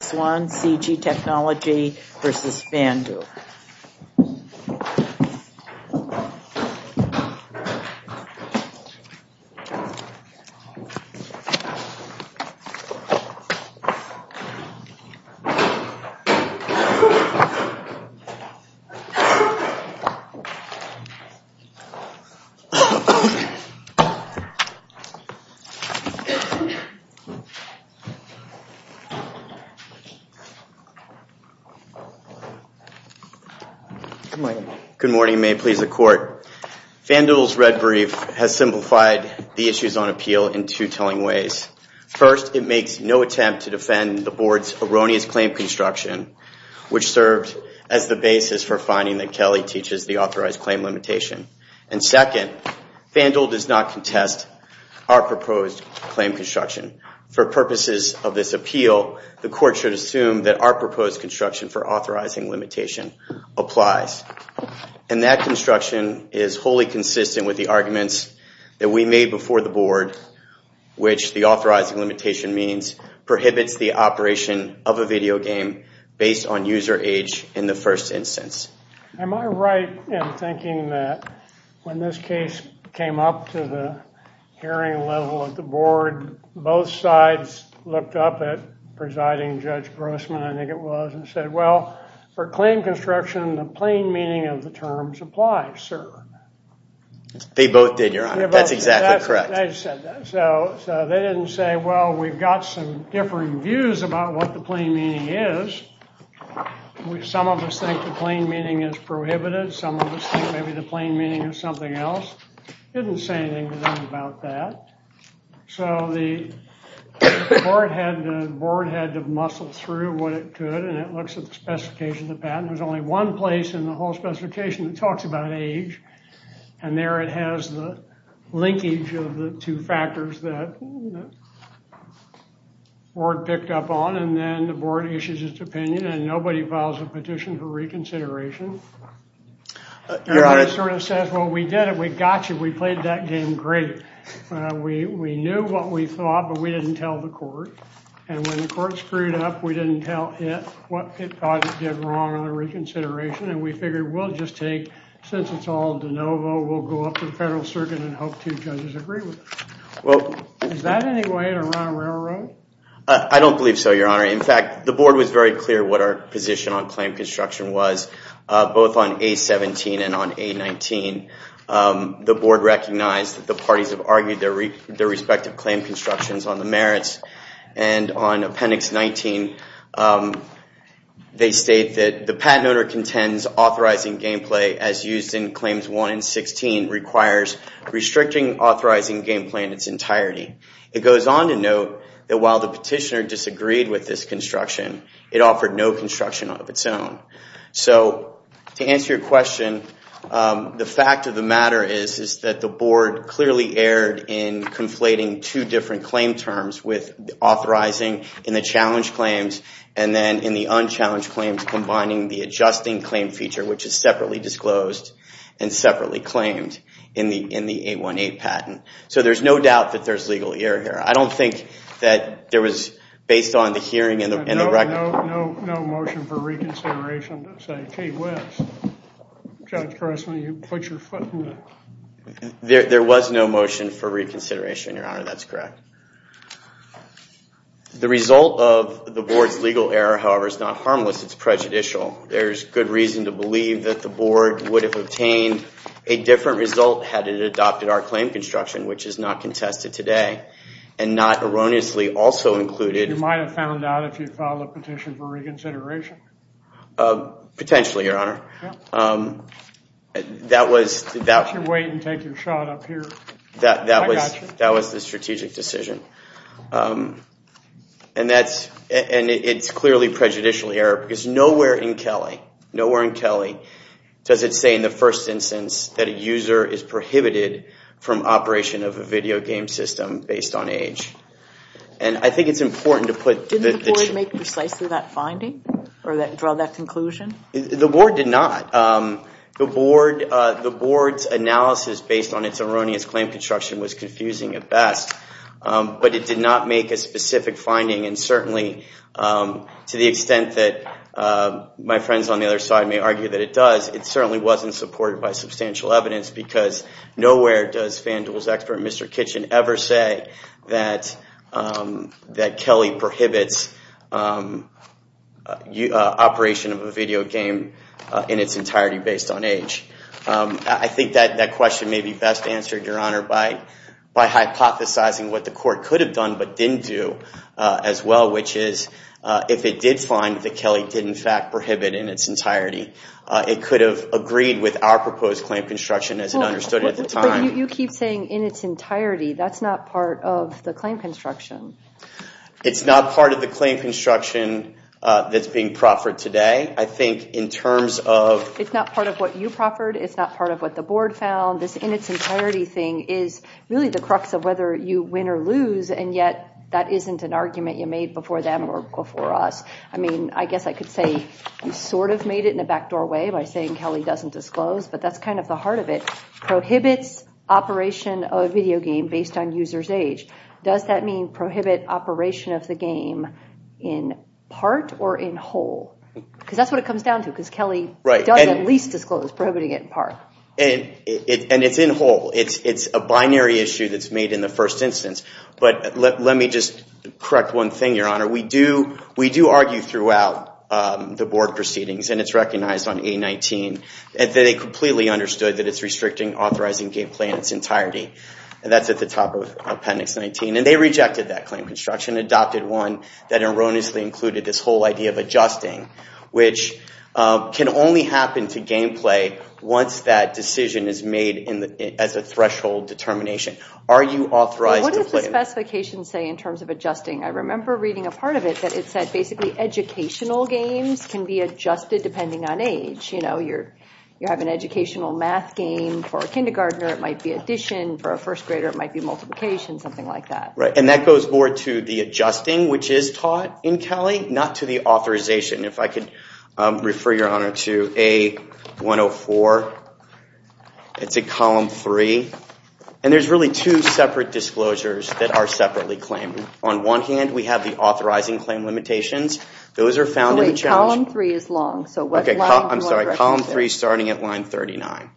Technology v. FanDuel. Good morning. May it please the Court. FanDuel's red brief has simplified the issues on appeal in two telling ways. First, it makes no attempt to defend the Board's erroneous claim construction, which served as the basis for finding that Kelly teaches the authorized claim limitation. And second, FanDuel does not contest our proposed claim construction. For purposes of this appeal, the Court should assume that our proposed construction for authorizing limitation applies. And that construction is wholly consistent with the arguments that we made before the Board, which the authorizing limitation means prohibits the operation of a video game based on user age in the first instance. Am I right in thinking that when this case came up to the hearing level at the Board, both sides looked up at presiding Judge Grossman, I think it was, and said, Well, for claim construction, the plain meaning of the terms applies, sir. They both did, Your Honor. That's exactly correct. So they didn't say, Well, we've got some differing views about what the plain meaning is. Some of us think the plain meaning is prohibited. Some of us think maybe the plain meaning is something else. They didn't say anything to them about that. So the Board had to muscle through what it could, and it looks at the specifications of the patent. There's only one place in the whole specification that talks about age, and there it has the linkage of the two factors that the Board picked up on. And then the Board issues its opinion, and nobody files a petition for reconsideration. And it sort of says, Well, we did it. We got you. We played that game great. We knew what we thought, but we didn't tell the court. And when the court screwed up, we didn't tell it what it thought it did wrong in the reconsideration, and we figured we'll just take, since it's all de novo, we'll go up to the Federal Circuit and hope two judges agree with it. Is that any way to run a railroad? I don't believe so, Your Honor. In fact, the Board was very clear what our position on claim construction was. Both on A-17 and on A-19, the Board recognized that the parties have argued their respective claim constructions on the merits. And on Appendix 19, they state that the patent owner contends authorizing gameplay, as used in Claims 1 and 16, requires restricting authorizing gameplay in its entirety. It goes on to note that while the petitioner disagreed with this construction, it offered no construction of its own. So to answer your question, the fact of the matter is that the Board clearly erred in conflating two different claim terms with authorizing in the challenged claims and then in the unchallenged claims combining the adjusting claim feature, which is separately disclosed and separately claimed in the A-18 patent. So there's no doubt that there's legal error here. I don't think that there was, based on the hearing and the record... There was no motion for reconsideration to say, gee whiz, Judge Carson, you put your foot in the... There was no motion for reconsideration, Your Honor, that's correct. The result of the Board's legal error, however, is not harmless, it's prejudicial. There's good reason to believe that the Board would have obtained a different result had it adopted our claim construction, which is not contested today, and not erroneously also included... Potentially, Your Honor. You can wait and take your shot up here. That was the strategic decision. And it's clearly prejudicial error because nowhere in Kelly does it say in the first instance that a user is prohibited from operation of a video game system based on age. And I think it's important to put... Didn't the Board make precisely that finding or draw that conclusion? The Board did not. The Board's analysis based on its erroneous claim construction was confusing at best, but it did not make a specific finding and certainly, to the extent that my friends on the other side may argue that it does, it certainly wasn't supported by substantial evidence because nowhere does FanDuel's expert, Mr. Kitchen, ever say that Kelly prohibits operation of a video game in its entirety based on age. I think that question may be best answered, Your Honor, by hypothesizing what the Court could have done but didn't do as well, which is if it did find that Kelly did in fact prohibit in its entirety, it could have agreed with our proposed claim construction as it understood it at the time. But you keep saying in its entirety. That's not part of the claim construction. It's not part of the claim construction that's being proffered today. I think in terms of... It's not part of what you proffered. It's not part of what the Board found. This in its entirety thing is really the crux of whether you win or lose, and yet that isn't an argument you made before them or before us. I mean, I guess I could say you sort of made it in the back doorway by saying Kelly doesn't disclose, but that's kind of the heart of it. Prohibits operation of a video game based on user's age. Does that mean prohibit operation of the game in part or in whole? Because that's what it comes down to, because Kelly does at least disclose, prohibiting it in part. And it's in whole. It's a binary issue that's made in the first instance. But let me just correct one thing, Your Honor. We do argue throughout the Board proceedings, and it's recognized on A-19, that they completely understood that it's restricting authorizing game play in its entirety. And that's at the top of Appendix 19. And they rejected that claim construction, adopted one that erroneously included this whole idea of adjusting, which can only happen to game play once that decision is made as a threshold determination. Are you authorized to play? What does the specification say in terms of adjusting? I remember reading a part of it that it said basically educational games can be adjusted depending on age. You know, you have an educational math game for a kindergartner, it might be addition. For a first grader, it might be multiplication, something like that. Right. And that goes more to the adjusting, which is taught in Kelly, not to the authorization. If I could refer, Your Honor, to A-104. It's at Column 3. And there's really two separate disclosures that are separately claimed. On one hand, we have the authorizing claim limitations. Those are found in the challenge. Wait, Column 3 is long. So what line do you want to reference in? I'm sorry, Column 3 starting at line 39.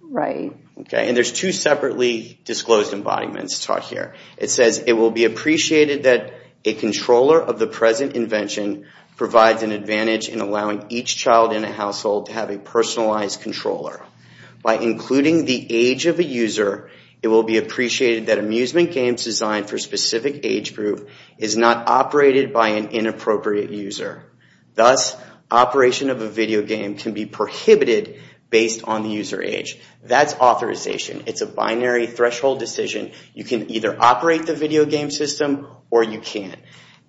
Right. Okay. And there's two separately disclosed embodiments taught here. It says, It will be appreciated that a controller of the present invention provides an advantage in allowing each child in a household to have a personalized controller. By including the age of a user, it will be appreciated that amusement games designed for a specific age group is not operated by an inappropriate user. Thus, operation of a video game can be prohibited based on the user age. That's authorization. It's a binary threshold decision. You can either operate the video game system or you can't.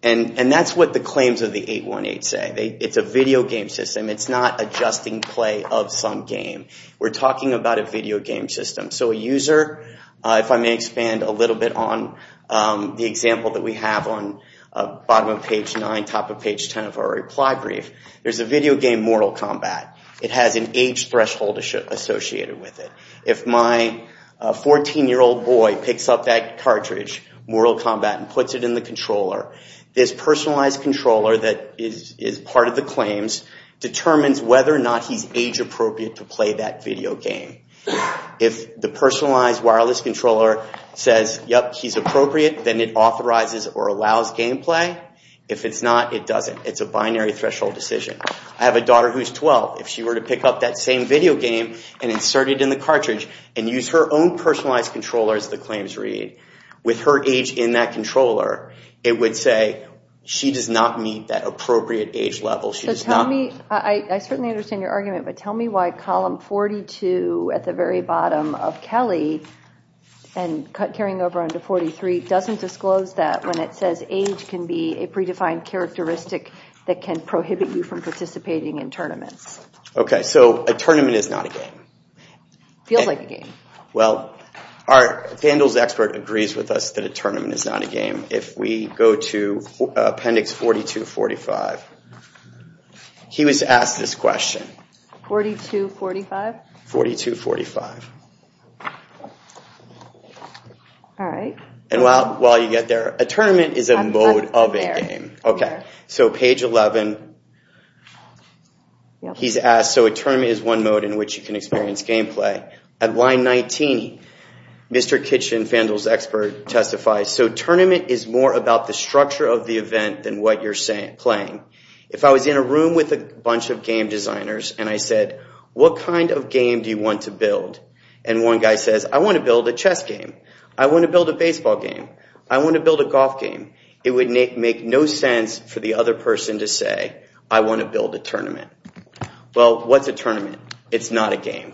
And that's what the claims of the 818 say. It's a video game system. It's not adjusting play of some game. We're talking about a video game system. So a user, if I may expand a little bit on the example that we have on bottom of page 9, top of page 10 of our reply brief, there's a video game Mortal Kombat. It has an age threshold associated with it. If my 14-year-old boy picks up that cartridge, Mortal Kombat, and puts it in the controller, this personalized controller that is part of the claims determines whether or not he's age appropriate to play that video game. If the personalized wireless controller says, yep, he's appropriate, then it authorizes or allows gameplay. If it's not, it doesn't. It's a binary threshold decision. I have a daughter who's 12. If she were to pick up that same video game and insert it in the cartridge and use her own personalized controller, as the claims read, with her age in that controller, it would say she does not meet that appropriate age level. I certainly understand your argument, but tell me why column 42 at the very bottom of Kelly and carrying over onto 43 doesn't disclose that when it says age can be a predefined characteristic that can prohibit you from participating in tournaments. Okay, so a tournament is not a game. It feels like a game. Well, our candles expert agrees with us that a tournament is not a game. If we go to appendix 4245, he was asked this question. 4245? 4245. All right. And while you get there, a tournament is a mode of a game. Okay, so page 11, he's asked, so a tournament is one mode in which you can experience gameplay. At line 19, Mr. Kitchen, Fandle's expert, testifies, so tournament is more about the structure of the event than what you're playing. If I was in a room with a bunch of game designers and I said, what kind of game do you want to build? And one guy says, I want to build a chess game. I want to build a baseball game. I want to build a golf game. It would make no sense for the other person to say, I want to build a tournament. Well, what's a tournament? It's not a game.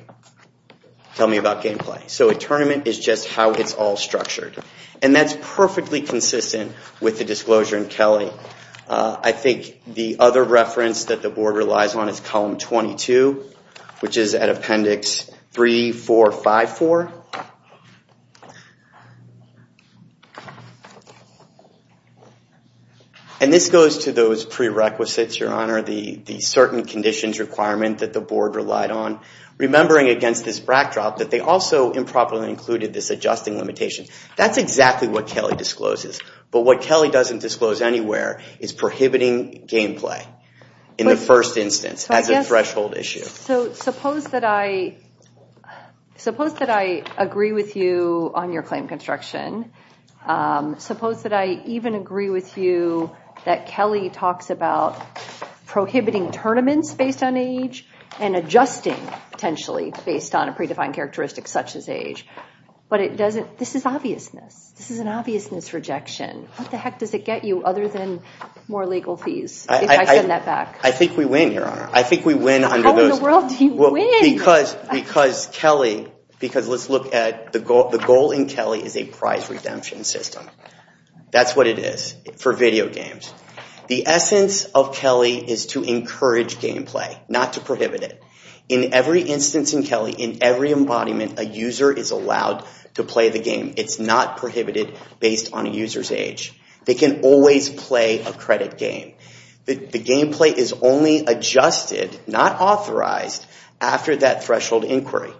Tell me about gameplay. So a tournament is just how it's all structured. And that's perfectly consistent with the disclosure in Kelly. I think the other reference that the board relies on is column 22, which is at appendix 3454. And this goes to those prerequisites, Your Honor, the certain conditions requirement that the board relied on, remembering against this backdrop that they also improperly included this adjusting limitation. That's exactly what Kelly discloses. But what Kelly doesn't disclose anywhere is prohibiting gameplay in the first instance as a threshold issue. So suppose that I agree with you on your claim construction. Suppose that I even agree with you that Kelly talks about prohibiting tournaments based on age and adjusting potentially based on a predefined characteristic such as age. But this is obviousness. This is an obviousness rejection. What the heck does it get you other than more legal fees if I send that back? I think we win, Your Honor. I think we win under those. How in the world do you win? Because Kelly, because let's look at the goal in Kelly is a prize redemption system. That's what it is for video games. The essence of Kelly is to encourage gameplay, not to prohibit it. In every instance in Kelly, in every embodiment, a user is allowed to play the game. It's not prohibited based on a user's age. They can always play a credit game. The gameplay is only adjusted, not authorized, after that threshold inquiry.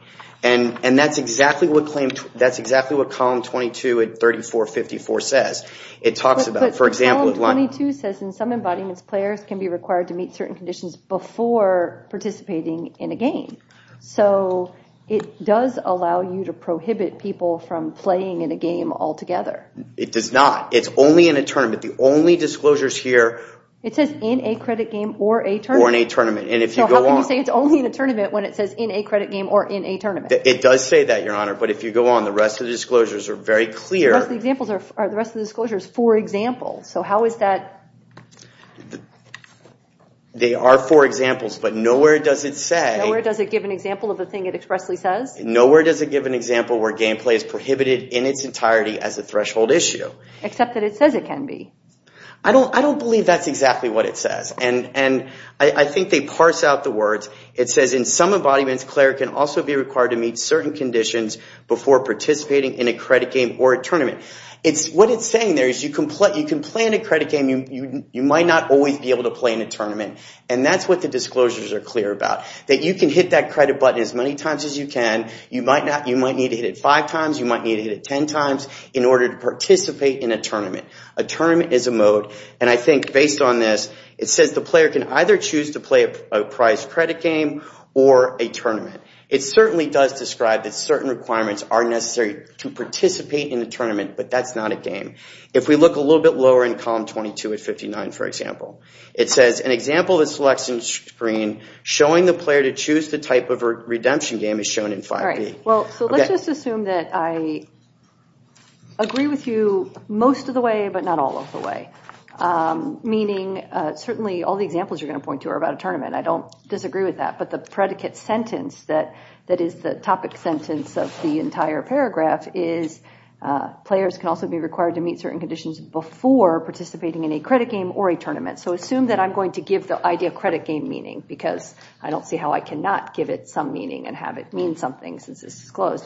And that's exactly what claim, that's exactly what Column 22 at 3454 says. It talks about, for example, But Column 22 says in some embodiments players can be required to meet certain conditions before participating in a game. So it does allow you to prohibit people from playing in a game altogether. It does not. It's only in a tournament. The only disclosures here. It says in a credit game or a tournament. Or in a tournament. So how can you say it's only in a tournament when it says in a credit game or in a tournament? It does say that, Your Honor. But if you go on, the rest of the disclosures are very clear. The rest of the disclosures are four examples. So how is that? They are four examples, but nowhere does it say. Nowhere does it give an example of the thing it expressly says? Nowhere does it give an example where gameplay is prohibited in its entirety as a threshold issue. Except that it says it can be. I don't believe that's exactly what it says. And I think they parse out the words. It says in some embodiments players can also be required to meet certain conditions before participating in a credit game or a tournament. What it's saying there is you can play in a credit game. You might not always be able to play in a tournament. And that's what the disclosures are clear about. That you can hit that credit button as many times as you can. You might need to hit it five times. You might need to hit it ten times in order to participate in a tournament. A tournament is a mode. And I think based on this, it says the player can either choose to play a prize credit game or a tournament. It certainly does describe that certain requirements are necessary to participate in a tournament. But that's not a game. If we look a little bit lower in column 22 at 59, for example, it says an example of a selection screen showing the player to choose the type of redemption game is shown in 5e. Well, so let's just assume that I agree with you most of the way but not all of the way. Meaning certainly all the examples you're going to point to are about a tournament. I don't disagree with that. But the predicate sentence that is the topic sentence of the entire paragraph is players can also be required to meet certain conditions before participating in a credit game or a tournament. So assume that I'm going to give the idea credit game meaning because I don't see how I cannot give it some meaning and have it mean something since it's disclosed.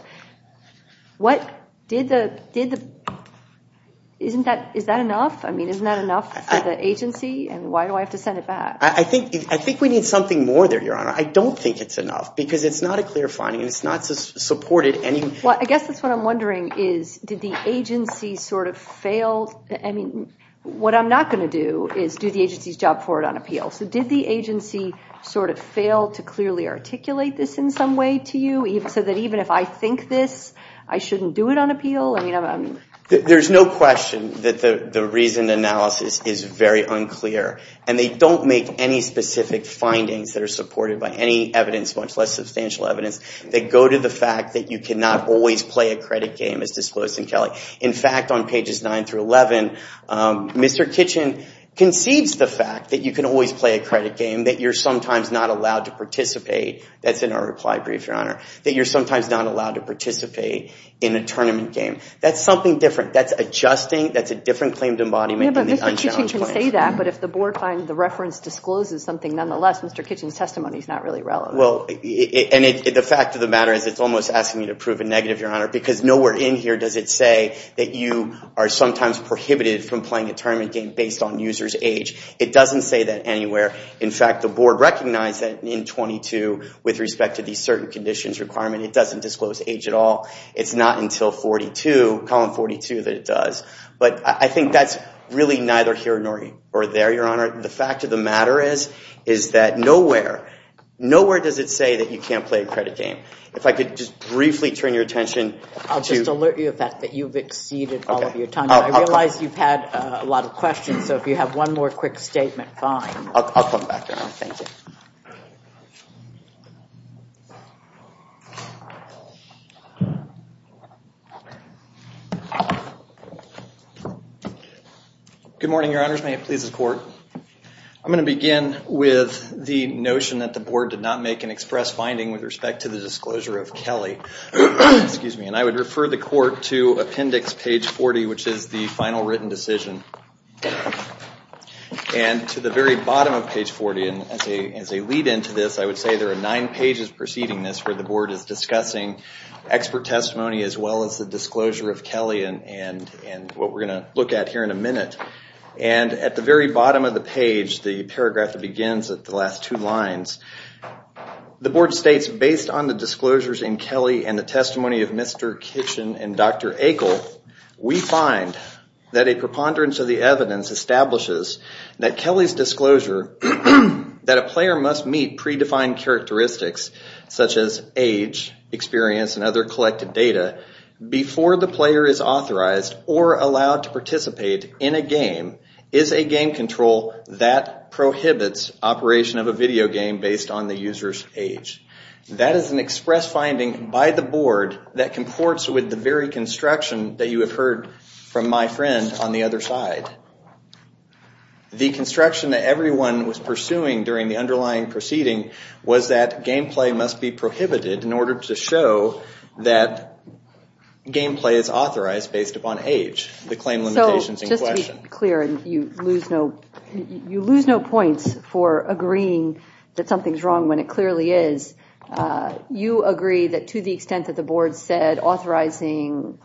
Isn't that enough? I mean, isn't that enough for the agency? And why do I have to send it back? I think we need something more there, Your Honor. I don't think it's enough because it's not a clear finding. It's not supported. Well, I guess that's what I'm wondering is did the agency sort of fail? I mean, what I'm not going to do is do the agency's job for it on appeal. So did the agency sort of fail to clearly articulate this in some way to you so that even if I think this, I shouldn't do it on appeal? There's no question that the reasoned analysis is very unclear. And they don't make any specific findings that are supported by any evidence, much less substantial evidence, that go to the fact that you cannot always play a credit game as disclosed in Kelly. In fact, on pages 9 through 11, Mr. Kitchen concedes the fact that you can always play a credit game, that you're sometimes not allowed to participate. That's in our reply brief, Your Honor, that you're sometimes not allowed to participate in a tournament game. That's something different. That's adjusting. That's a different claim to embodiment than the unchallenged claims. Yeah, but Mr. Kitchen can say that, but if the board finds the reference discloses something, nonetheless, Mr. Kitchen's testimony is not really relevant. Well, and the fact of the matter is it's almost asking you to prove a negative, Your Honor, because nowhere in here does it say that you are sometimes prohibited from playing a tournament game based on user's age. It doesn't say that anywhere. In fact, the board recognized that in 22 with respect to these certain conditions requirement. It doesn't disclose age at all. It's not until 42, column 42, that it does. But I think that's really neither here nor there, Your Honor. The fact of the matter is that nowhere, nowhere does it say that you can't play a credit game. If I could just briefly turn your attention to— I'll just alert you of the fact that you've exceeded all of your time. I realize you've had a lot of questions, so if you have one more quick statement, fine. I'll come back, Your Honor. Thank you. May it please the Court. I'm going to begin with the notion that the board did not make an express finding with respect to the disclosure of Kelly. And I would refer the Court to appendix page 40, which is the final written decision. And to the very bottom of page 40, and as a lead-in to this, I would say there are nine pages preceding this, where the board is discussing expert testimony as well as the disclosure of Kelly and what we're going to look at here in a minute. And at the very bottom of the page, the paragraph that begins at the last two lines, the board states, based on the disclosures in Kelly and the testimony of Mr. Kitchen and Dr. Akel, we find that a preponderance of the evidence establishes that Kelly's disclosure, that a player must meet predefined characteristics, such as age, experience, and other collected data, before the player is authorized or allowed to participate in a game, is a game control that prohibits operation of a video game based on the user's age. That is an express finding by the board that comports with the very construction that you have heard from my friend on the other side. The construction that everyone was pursuing during the underlying proceeding was that gameplay is authorized based upon age. The claim limitation is in question. So just to be clear, and you lose no points for agreeing that something is wrong when it clearly is, you agree that to the extent that the board said authorizing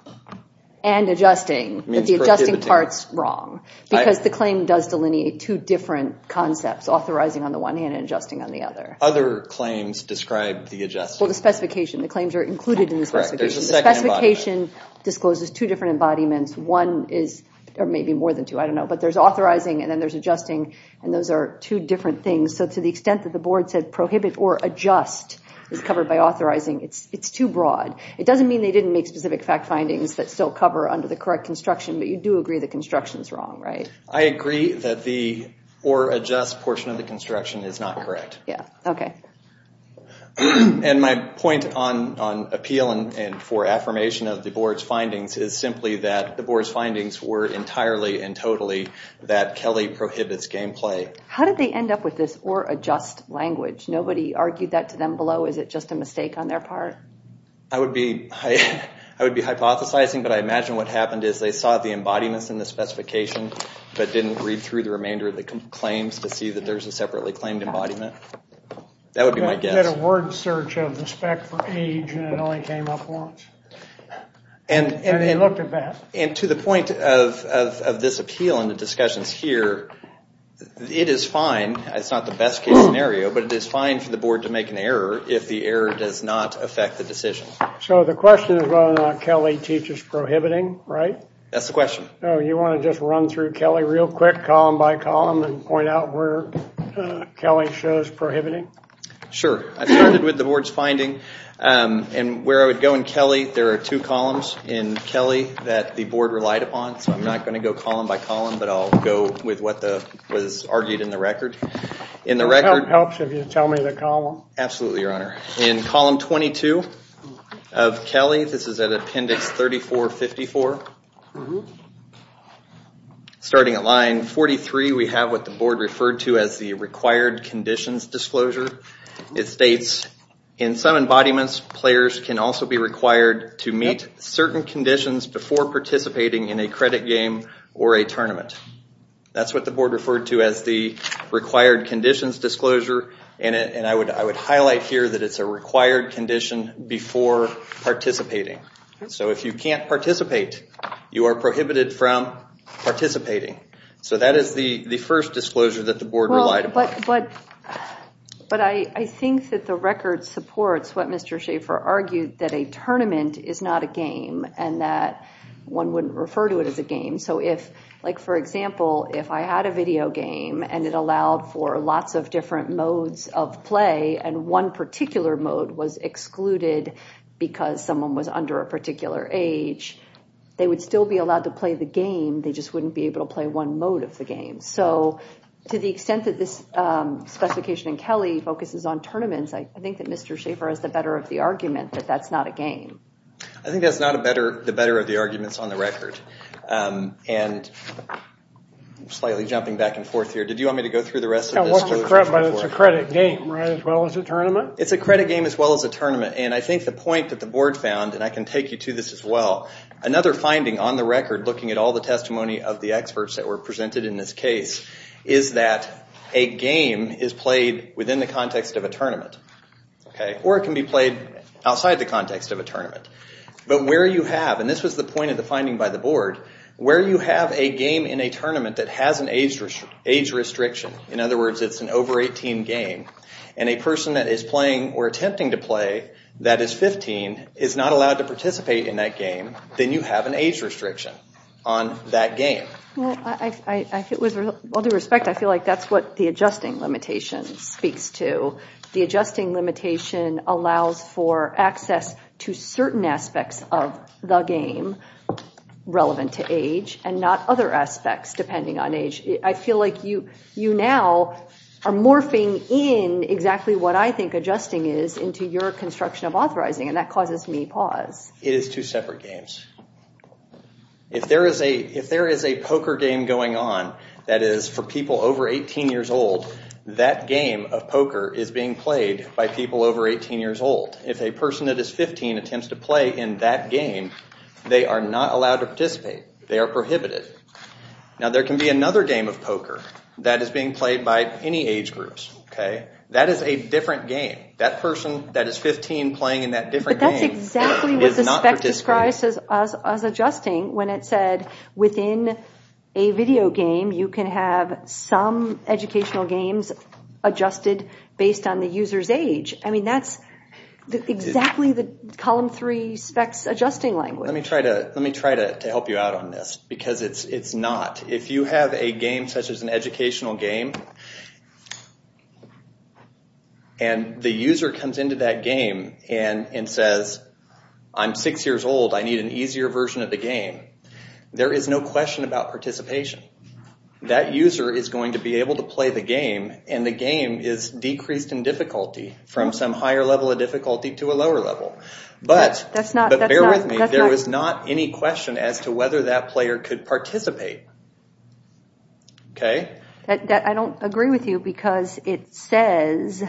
and adjusting, that the adjusting part is wrong. Because the claim does delineate two different concepts, authorizing on the one hand and adjusting on the other. Other claims describe the adjusting. Well, the specification. The claims are included in the specification. The specification discloses two different embodiments. One is, or maybe more than two, I don't know. But there's authorizing and then there's adjusting, and those are two different things. So to the extent that the board said prohibit or adjust is covered by authorizing, it's too broad. It doesn't mean they didn't make specific fact findings that still cover under the correct construction, but you do agree the construction is wrong, right? I agree that the or adjust portion of the construction is not correct. And my point on appeal and for affirmation of the board's findings is simply that the board's findings were entirely and totally that Kelly prohibits game play. How did they end up with this or adjust language? Nobody argued that to them below? Is it just a mistake on their part? I would be hypothesizing, but I imagine what happened is they saw the embodiments in the specification but didn't read through the remainder of the claims to see that there's a separately claimed embodiment. That would be my guess. They did a word search of the spec for age and it only came up once. And they looked at that. And to the point of this appeal and the discussions here, it is fine. It's not the best case scenario, but it is fine for the board to make an error if the error does not affect the decision. So the question is whether or not Kelly teaches prohibiting, right? That's the question. You want to just run through Kelly real quick, column by column, and point out where Kelly shows prohibiting? Sure. I started with the board's finding. And where I would go in Kelly, there are two columns in Kelly that the board relied upon. So I'm not going to go column by column, but I'll go with what was argued in the record. It helps if you tell me the column. Absolutely, Your Honor. In column 22 of Kelly, this is at appendix 3454, starting at line 43, we have what the board referred to as the required conditions disclosure. It states, in some embodiments, players can also be required to meet certain conditions before participating in a credit game or a tournament. That's what the board referred to as the required conditions disclosure. I would highlight here that it's a required condition before participating. So if you can't participate, you are prohibited from participating. So that is the first disclosure that the board relied upon. But I think that the record supports what Mr. Schaefer argued, that a tournament is not a game and that one wouldn't refer to it as a game. For example, if I had a video game and it allowed for lots of different modes of play and one particular mode was excluded because someone was under a particular age, they would still be allowed to play the game, they just wouldn't be able to play one mode of the game. So to the extent that this specification in Kelly focuses on tournaments, I think that Mr. Schaefer is the better of the argument that that's not a game. I think that's not the better of the arguments on the record. I'm slightly jumping back and forth here. Did you want me to go through the rest of this? It's a credit game as well as a tournament. It's a credit game as well as a tournament. And I think the point that the board found, and I can take you to this as well, another finding on the record looking at all the testimony of the experts that were presented in this case is that a game is played within the context of a tournament. Or it can be played outside the context of a tournament. But where you have, and this was the point of the finding by the board, where you have a game in a tournament that has an age restriction, in other words it's an over 18 game, and a person that is playing or attempting to play that is 15 is not allowed to participate in that game, then you have an age restriction on that game. With all due respect, I feel like that's what the adjusting limitation speaks to. The adjusting limitation allows for access to certain aspects of the game relevant to age and not other aspects depending on age. I feel like you now are morphing in exactly what I think adjusting is into your construction of authorizing, and that causes me pause. It is two separate games. If there is a poker game going on that is for people over 18 years old, that game of poker is being played by people over 18 years old. If a person that is 15 attempts to play in that game, they are not allowed to participate. They are prohibited. Now there can be another game of poker that is being played by any age groups. That is a different game. That person that is 15 playing in that different game is not participating. But that's exactly what the spec describes as adjusting when it said within a video game, you can have some educational games adjusted based on the user's age. That's exactly the Column 3 spec's adjusting language. Let me try to help you out on this because it's not. If you have a game such as an educational game, and the user comes into that game and says, I'm six years old, I need an easier version of the game, there is no question about participation. That user is going to be able to play the game, and the game is decreased in difficulty from some higher level of difficulty to a lower level. But bear with me, there is not any question as to whether that player could participate. I don't agree with you because it says,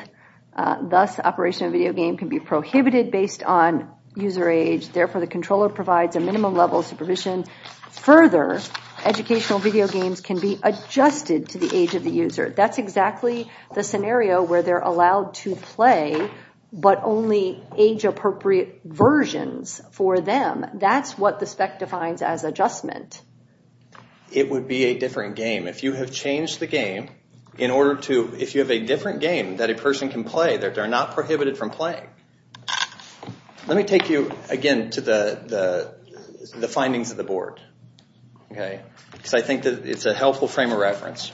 thus, operational video game can be prohibited based on user age. Therefore, the controller provides a minimum level of supervision. Further, educational video games can be adjusted to the age of the user. That's exactly the scenario where they're allowed to play, but only age appropriate versions for them. That's what the spec defines as adjustment. It would be a different game. If you have changed the game in order to, if you have a different game that a person can play, they're not prohibited from playing. Let me take you again to the findings of the board. I think it's a helpful frame of reference.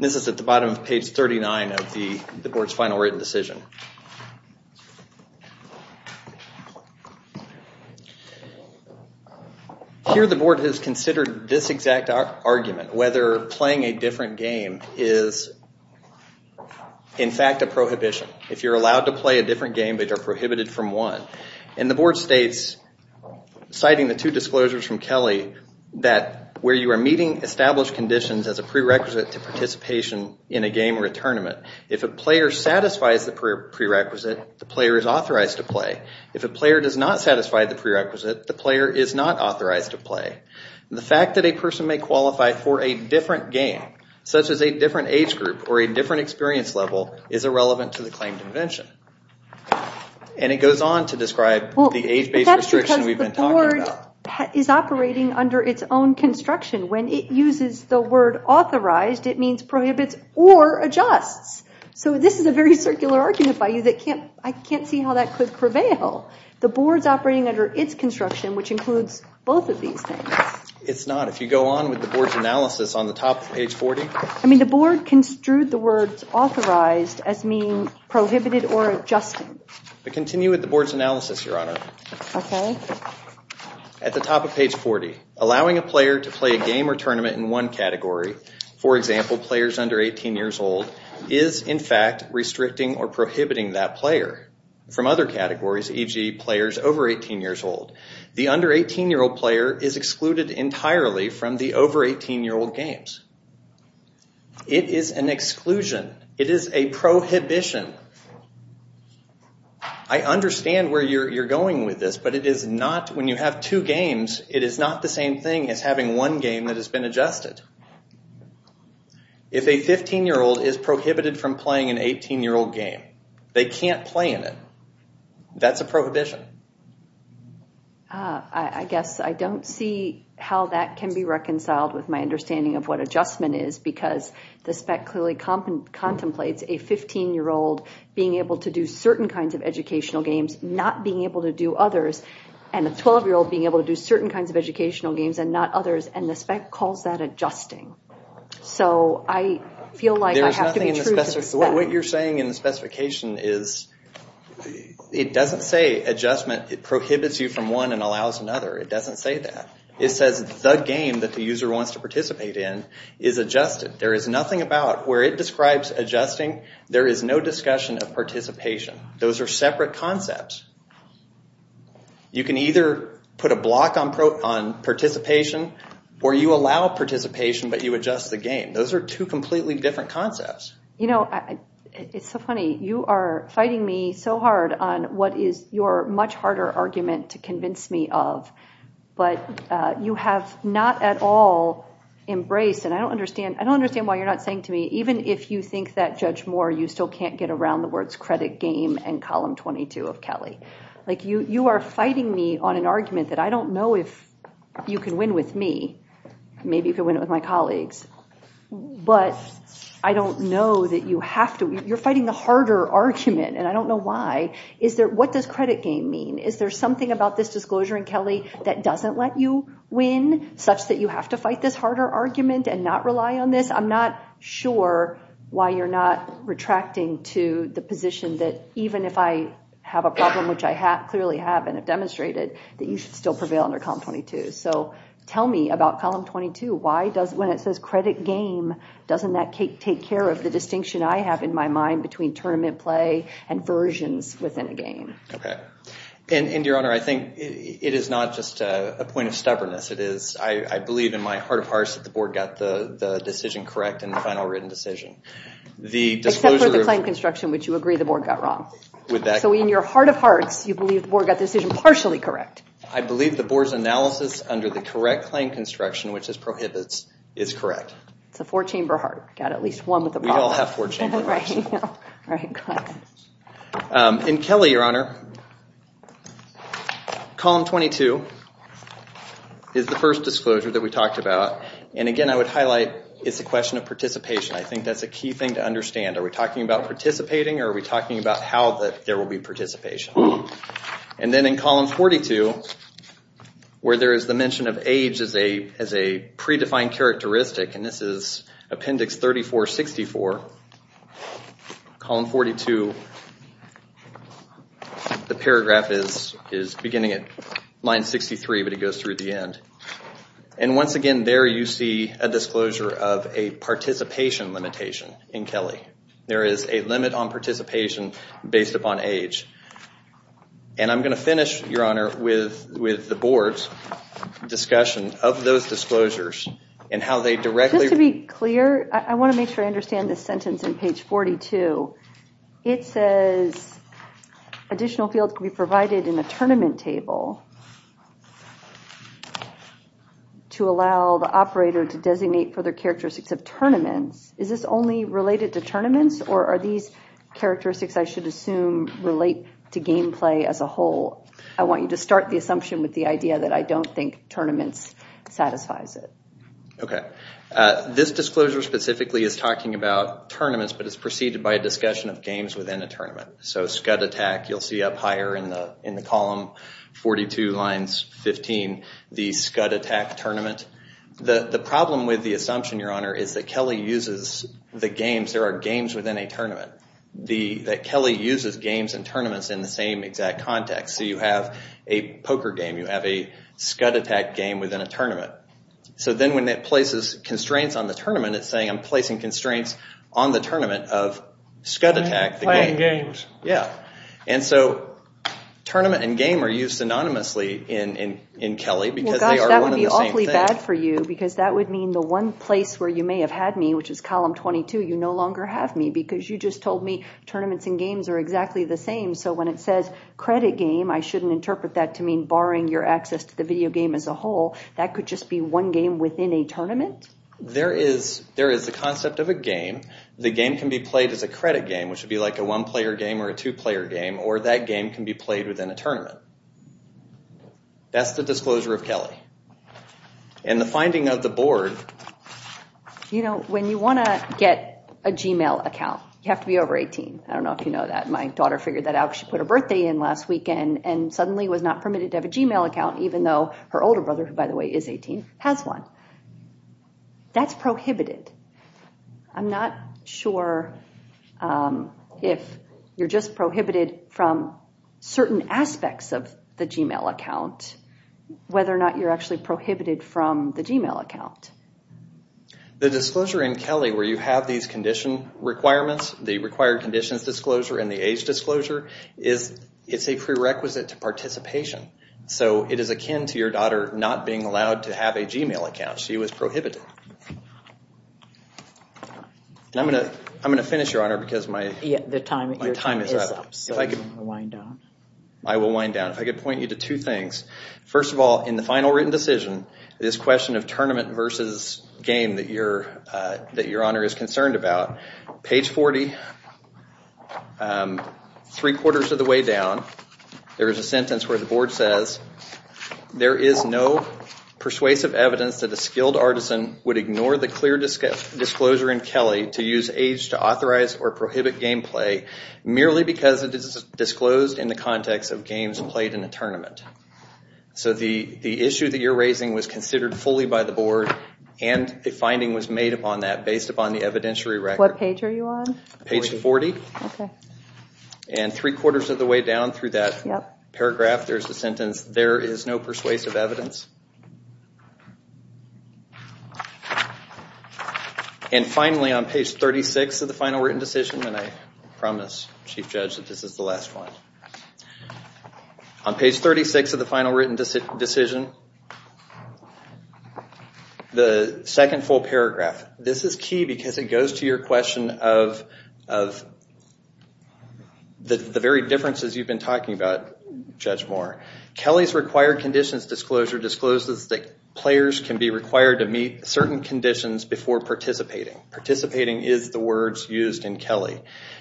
This is at the bottom of page 39 of the board's final written decision. Here the board has considered this exact argument, whether playing a different game is in fact a prohibition. If you're allowed to play a different game, but you're prohibited from one. The board states, citing the two disclosures from Kelly, that where you are meeting established conditions as a prerequisite to participation in a game or a tournament, if a player satisfies the prerequisite, the player is authorized to play. If a player does not satisfy the prerequisite, the player is not authorized to play. The fact that a person may qualify for a different game, such as a different age group or a different experience level, is irrelevant to the claim convention. It goes on to describe the age-based restriction we've been talking about. That's because the board is operating under its own construction. When it uses the word authorized, it means prohibits or adjusts. This is a very circular argument by you. I can't see how that could prevail. The board's operating under its construction, which includes both of these things. It's not. If you go on with the board's analysis on the top of page 40. The board construed the words authorized as meaning prohibited or adjusted. Continue with the board's analysis, Your Honor. Okay. At the top of page 40, allowing a player to play a game or tournament in one category, for example, players under 18 years old, is in fact restricting or prohibiting that player from other categories, e.g. players over 18 years old. The under 18-year-old player is excluded entirely from the over 18-year-old games. It is an exclusion. It is a prohibition. I understand where you're going with this, but when you have two games, it is not the same thing as having one game that has been adjusted. If a 15-year-old is prohibited from playing an 18-year-old game, they can't play in it. That's a prohibition. I guess I don't see how that can be reconciled with my understanding of what adjustment is, because the spec clearly contemplates a 15-year-old being able to do certain kinds of educational games, not being able to do others, and a 12-year-old being able to do certain kinds of educational games and not others, and the spec calls that adjusting. So I feel like I have to be true to the spec. What you're saying in the specification is, it doesn't say adjustment prohibits you from one and allows another. It doesn't say that. It says the game that the user wants to participate in is adjusted. There is nothing about where it describes adjusting. There is no discussion of participation. Those are separate concepts. You can either put a block on participation, or you allow participation, but you adjust the game. Those are two completely different concepts. You know, it's so funny. You are fighting me so hard on what is your much harder argument to convince me of, but you have not at all embraced, and I don't understand why you're not saying to me, even if you think that, Judge Moore, you still can't get around the words credit game and column 22 of Kelly. Like, you are fighting me on an argument that I don't know if you can win with me. Maybe you can win it with my colleagues, but I don't know that you have to. You're fighting the harder argument, and I don't know why. What does credit game mean? Is there something about this disclosure in Kelly that doesn't let you win, such that you have to fight this harder argument and not rely on this? I'm not sure why you're not retracting to the position that even if I have a problem, which I clearly have and have demonstrated, that you should still prevail under column 22. So tell me about column 22. When it says credit game, between tournament play and versions within a game? Your Honor, I think it is not just a point of stubbornness. I believe in my heart of hearts that the board got the decision correct and the final written decision. Except for the claim construction, which you agree the board got wrong. So in your heart of hearts, you believe the board got the decision partially correct. I believe the board's analysis under the correct claim construction, which is prohibits, is correct. It's a four-chamber heart. Got at least one with a problem. We all have four chamber hearts. All right, go ahead. In Kelly, Your Honor, column 22 is the first disclosure that we talked about. And again, I would highlight, it's a question of participation. I think that's a key thing to understand. Are we talking about participating or are we talking about how there will be participation? And then in column 42, where there is the mention of age as a predefined characteristic, and this is appendix 3464, column 42, the paragraph is beginning at line 63, but it goes through the end. And once again, there you see a disclosure of a participation limitation in Kelly. There is a limit on participation based upon age. And I'm gonna finish, Your Honor, with the board's discussion of those disclosures and how they directly- Just to be clear, I wanna make sure I understand this sentence in page 42. It says additional fields can be provided in the tournament table to allow the operator to designate for their characteristics of tournaments. Is this only related to tournaments or are these characteristics, I should assume, relate to gameplay as a whole? I want you to start the assumption with the idea that I don't think tournaments satisfies it. Okay, this disclosure specifically is talking about tournaments, but it's preceded by a discussion of games within a tournament. So, scud attack, you'll see up higher in the column 42, lines 15, the scud attack tournament. The problem with the assumption, Your Honor, is that Kelly uses the games, there are games within a tournament, that Kelly uses games and tournaments in the same exact context. So you have a poker game, you have a scud attack game within a tournament. So then when it places constraints on the tournament, it's saying I'm placing constraints on the tournament of scud attack, the game. Playing games. Yeah, and so tournament and game are used synonymously in Kelly because they are one and the same thing. Well, gosh, that would be awfully bad for you because that would mean the one place where you may have had me, which is column 22, you no longer have me because you just told me tournaments and games are exactly the same. So when it says credit game, I shouldn't interpret that to mean barring your access to the video game as a whole. That could just be one game within a tournament? There is a concept of a game. The game can be played as a credit game, which would be like a one player game or a two player game, or that game can be played within a tournament. That's the disclosure of Kelly. And the finding of the board... You know, when you want to get a Gmail account, you have to be over 18. I don't know if you know that. My daughter figured that out. She put her birthday in last weekend and suddenly was not permitted to have a Gmail account even though her older brother, who by the way is 18, has one. That's prohibited. I'm not sure if you're just prohibited from certain aspects of the Gmail account, whether or not you're actually prohibited from the Gmail account. The disclosure in Kelly where you have these condition requirements, the required conditions disclosure and the age disclosure, it's a prerequisite to participation. So it is akin to your daughter not being allowed to have a Gmail account. She was prohibited. I'm going to finish, Your Honor, because my time is up. I will wind down. If I could point you to two things. First of all, in the final written decision, this question of tournament versus game that Your Honor is concerned about, page 40, three quarters of the way down, there is a sentence where the board says, there is no persuasive evidence that a skilled artisan would ignore the clear disclosure in Kelly to use age to authorize or prohibit game play merely because it is disclosed in the context of games played in a tournament. So the issue that you're raising was considered fully by the board and a finding was made upon that What page are you on? Page 40. And three quarters of the way down through that paragraph, there's a sentence, there is no persuasive evidence. And finally, on page 36 of the final written decision, and I promise, Chief Judge, that this is the last one. On page 36 of the final written decision, the second full paragraph, this is key because it goes to your question of the very differences you've been talking about, Judge Moore. Kelly's required conditions disclosure discloses that players can be required to meet certain conditions before participating. Participating is the words used in Kelly.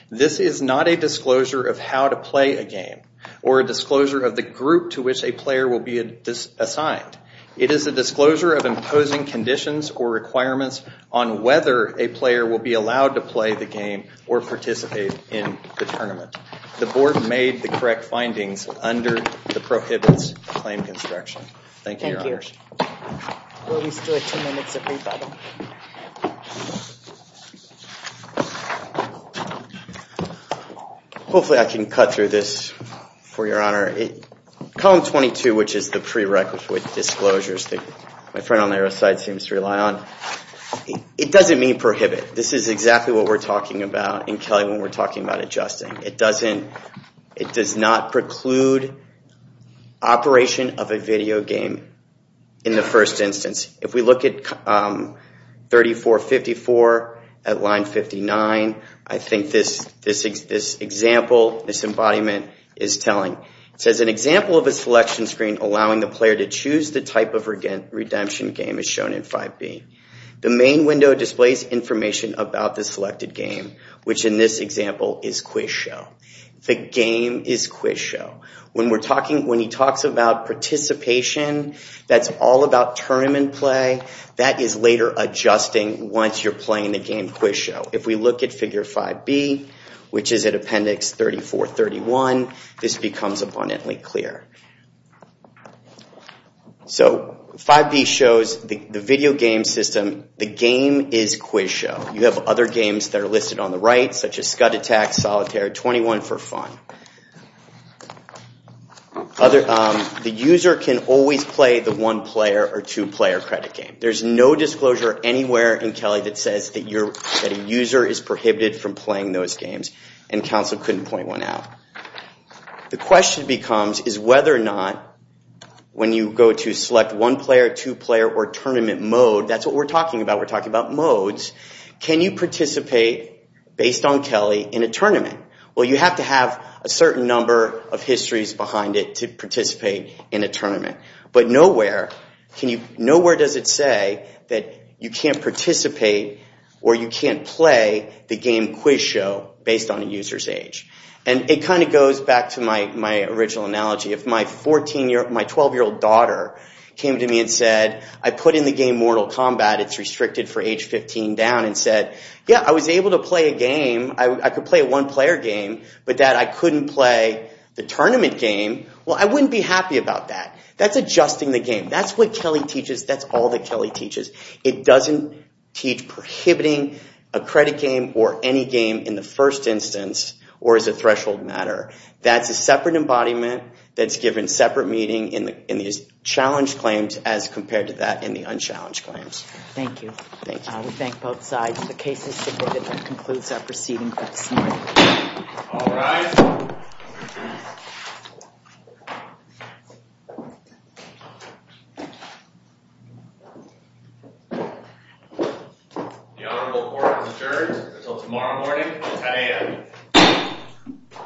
This is not a disclosure of how to play a game or a disclosure of the group to which a player will be assigned. It is a disclosure of imposing conditions or requirements on whether a player will be allowed to play the game or participate in the tournament. The board made the correct findings under the prohibits claim construction. Thank you, Your Honors. Thank you. We'll be still at two minutes of rebuttal. Hopefully I can cut through this for Your Honor. Column 22, which is the prerequisite disclosures that my friend on the other side seems to rely on, it doesn't mean prohibit. This is exactly what we're talking about in Kelly when we're talking about adjusting. It does not preclude operation of a video game in the first instance. If we look at 3454 at line 59, I think this example, this embodiment is telling. It says an example of a selection screen allowing the player to choose the type of redemption game as shown in 5B. The main window displays information about the selected game, which in this example is quiz show. The game is quiz show. When he talks about participation, that's all about tournament play. That is later adjusting once you're playing the game quiz show. If we look at figure 5B, which is at appendix 3431, this becomes abundantly clear. 5B shows the video game system. The game is quiz show. You have other games that are listed on the right, such as Scud Attack, Solitaire, 21 for Fun. The user can always play the one-player or two-player credit game. There's no disclosure anywhere in Kelly that says that a user is prohibited from playing those games, and counsel couldn't point one out. The question becomes, is whether or not when you go to select one-player, two-player, or tournament mode, that's what we're talking about. We're talking about modes. Can you participate, based on Kelly, in a tournament? Well, you have to have a certain number of histories behind it to participate in a tournament. But nowhere does it say that you can't participate or you can't play the game quiz show based on a user's age. And it kind of goes back to my original analogy. If my 12-year-old daughter came to me and said, I put in the game Mortal Kombat. It's restricted for age 15 and down, and said, yeah, I was able to play a game. I could play a one-player game, but that I couldn't play the tournament game, well, I wouldn't be happy about that. That's adjusting the game. That's what Kelly teaches. That's all that Kelly teaches. It doesn't teach prohibiting a credit game or any game in the first instance or as a threshold matter. That's a separate embodiment that's given separate meaning in these challenged claims as compared to that in the unchallenged claims. Thank you. Thank you. We thank both sides. The case is submitted and concludes our proceeding for this morning. All rise. The honorable court has adjourned until tomorrow morning at 10 a.m.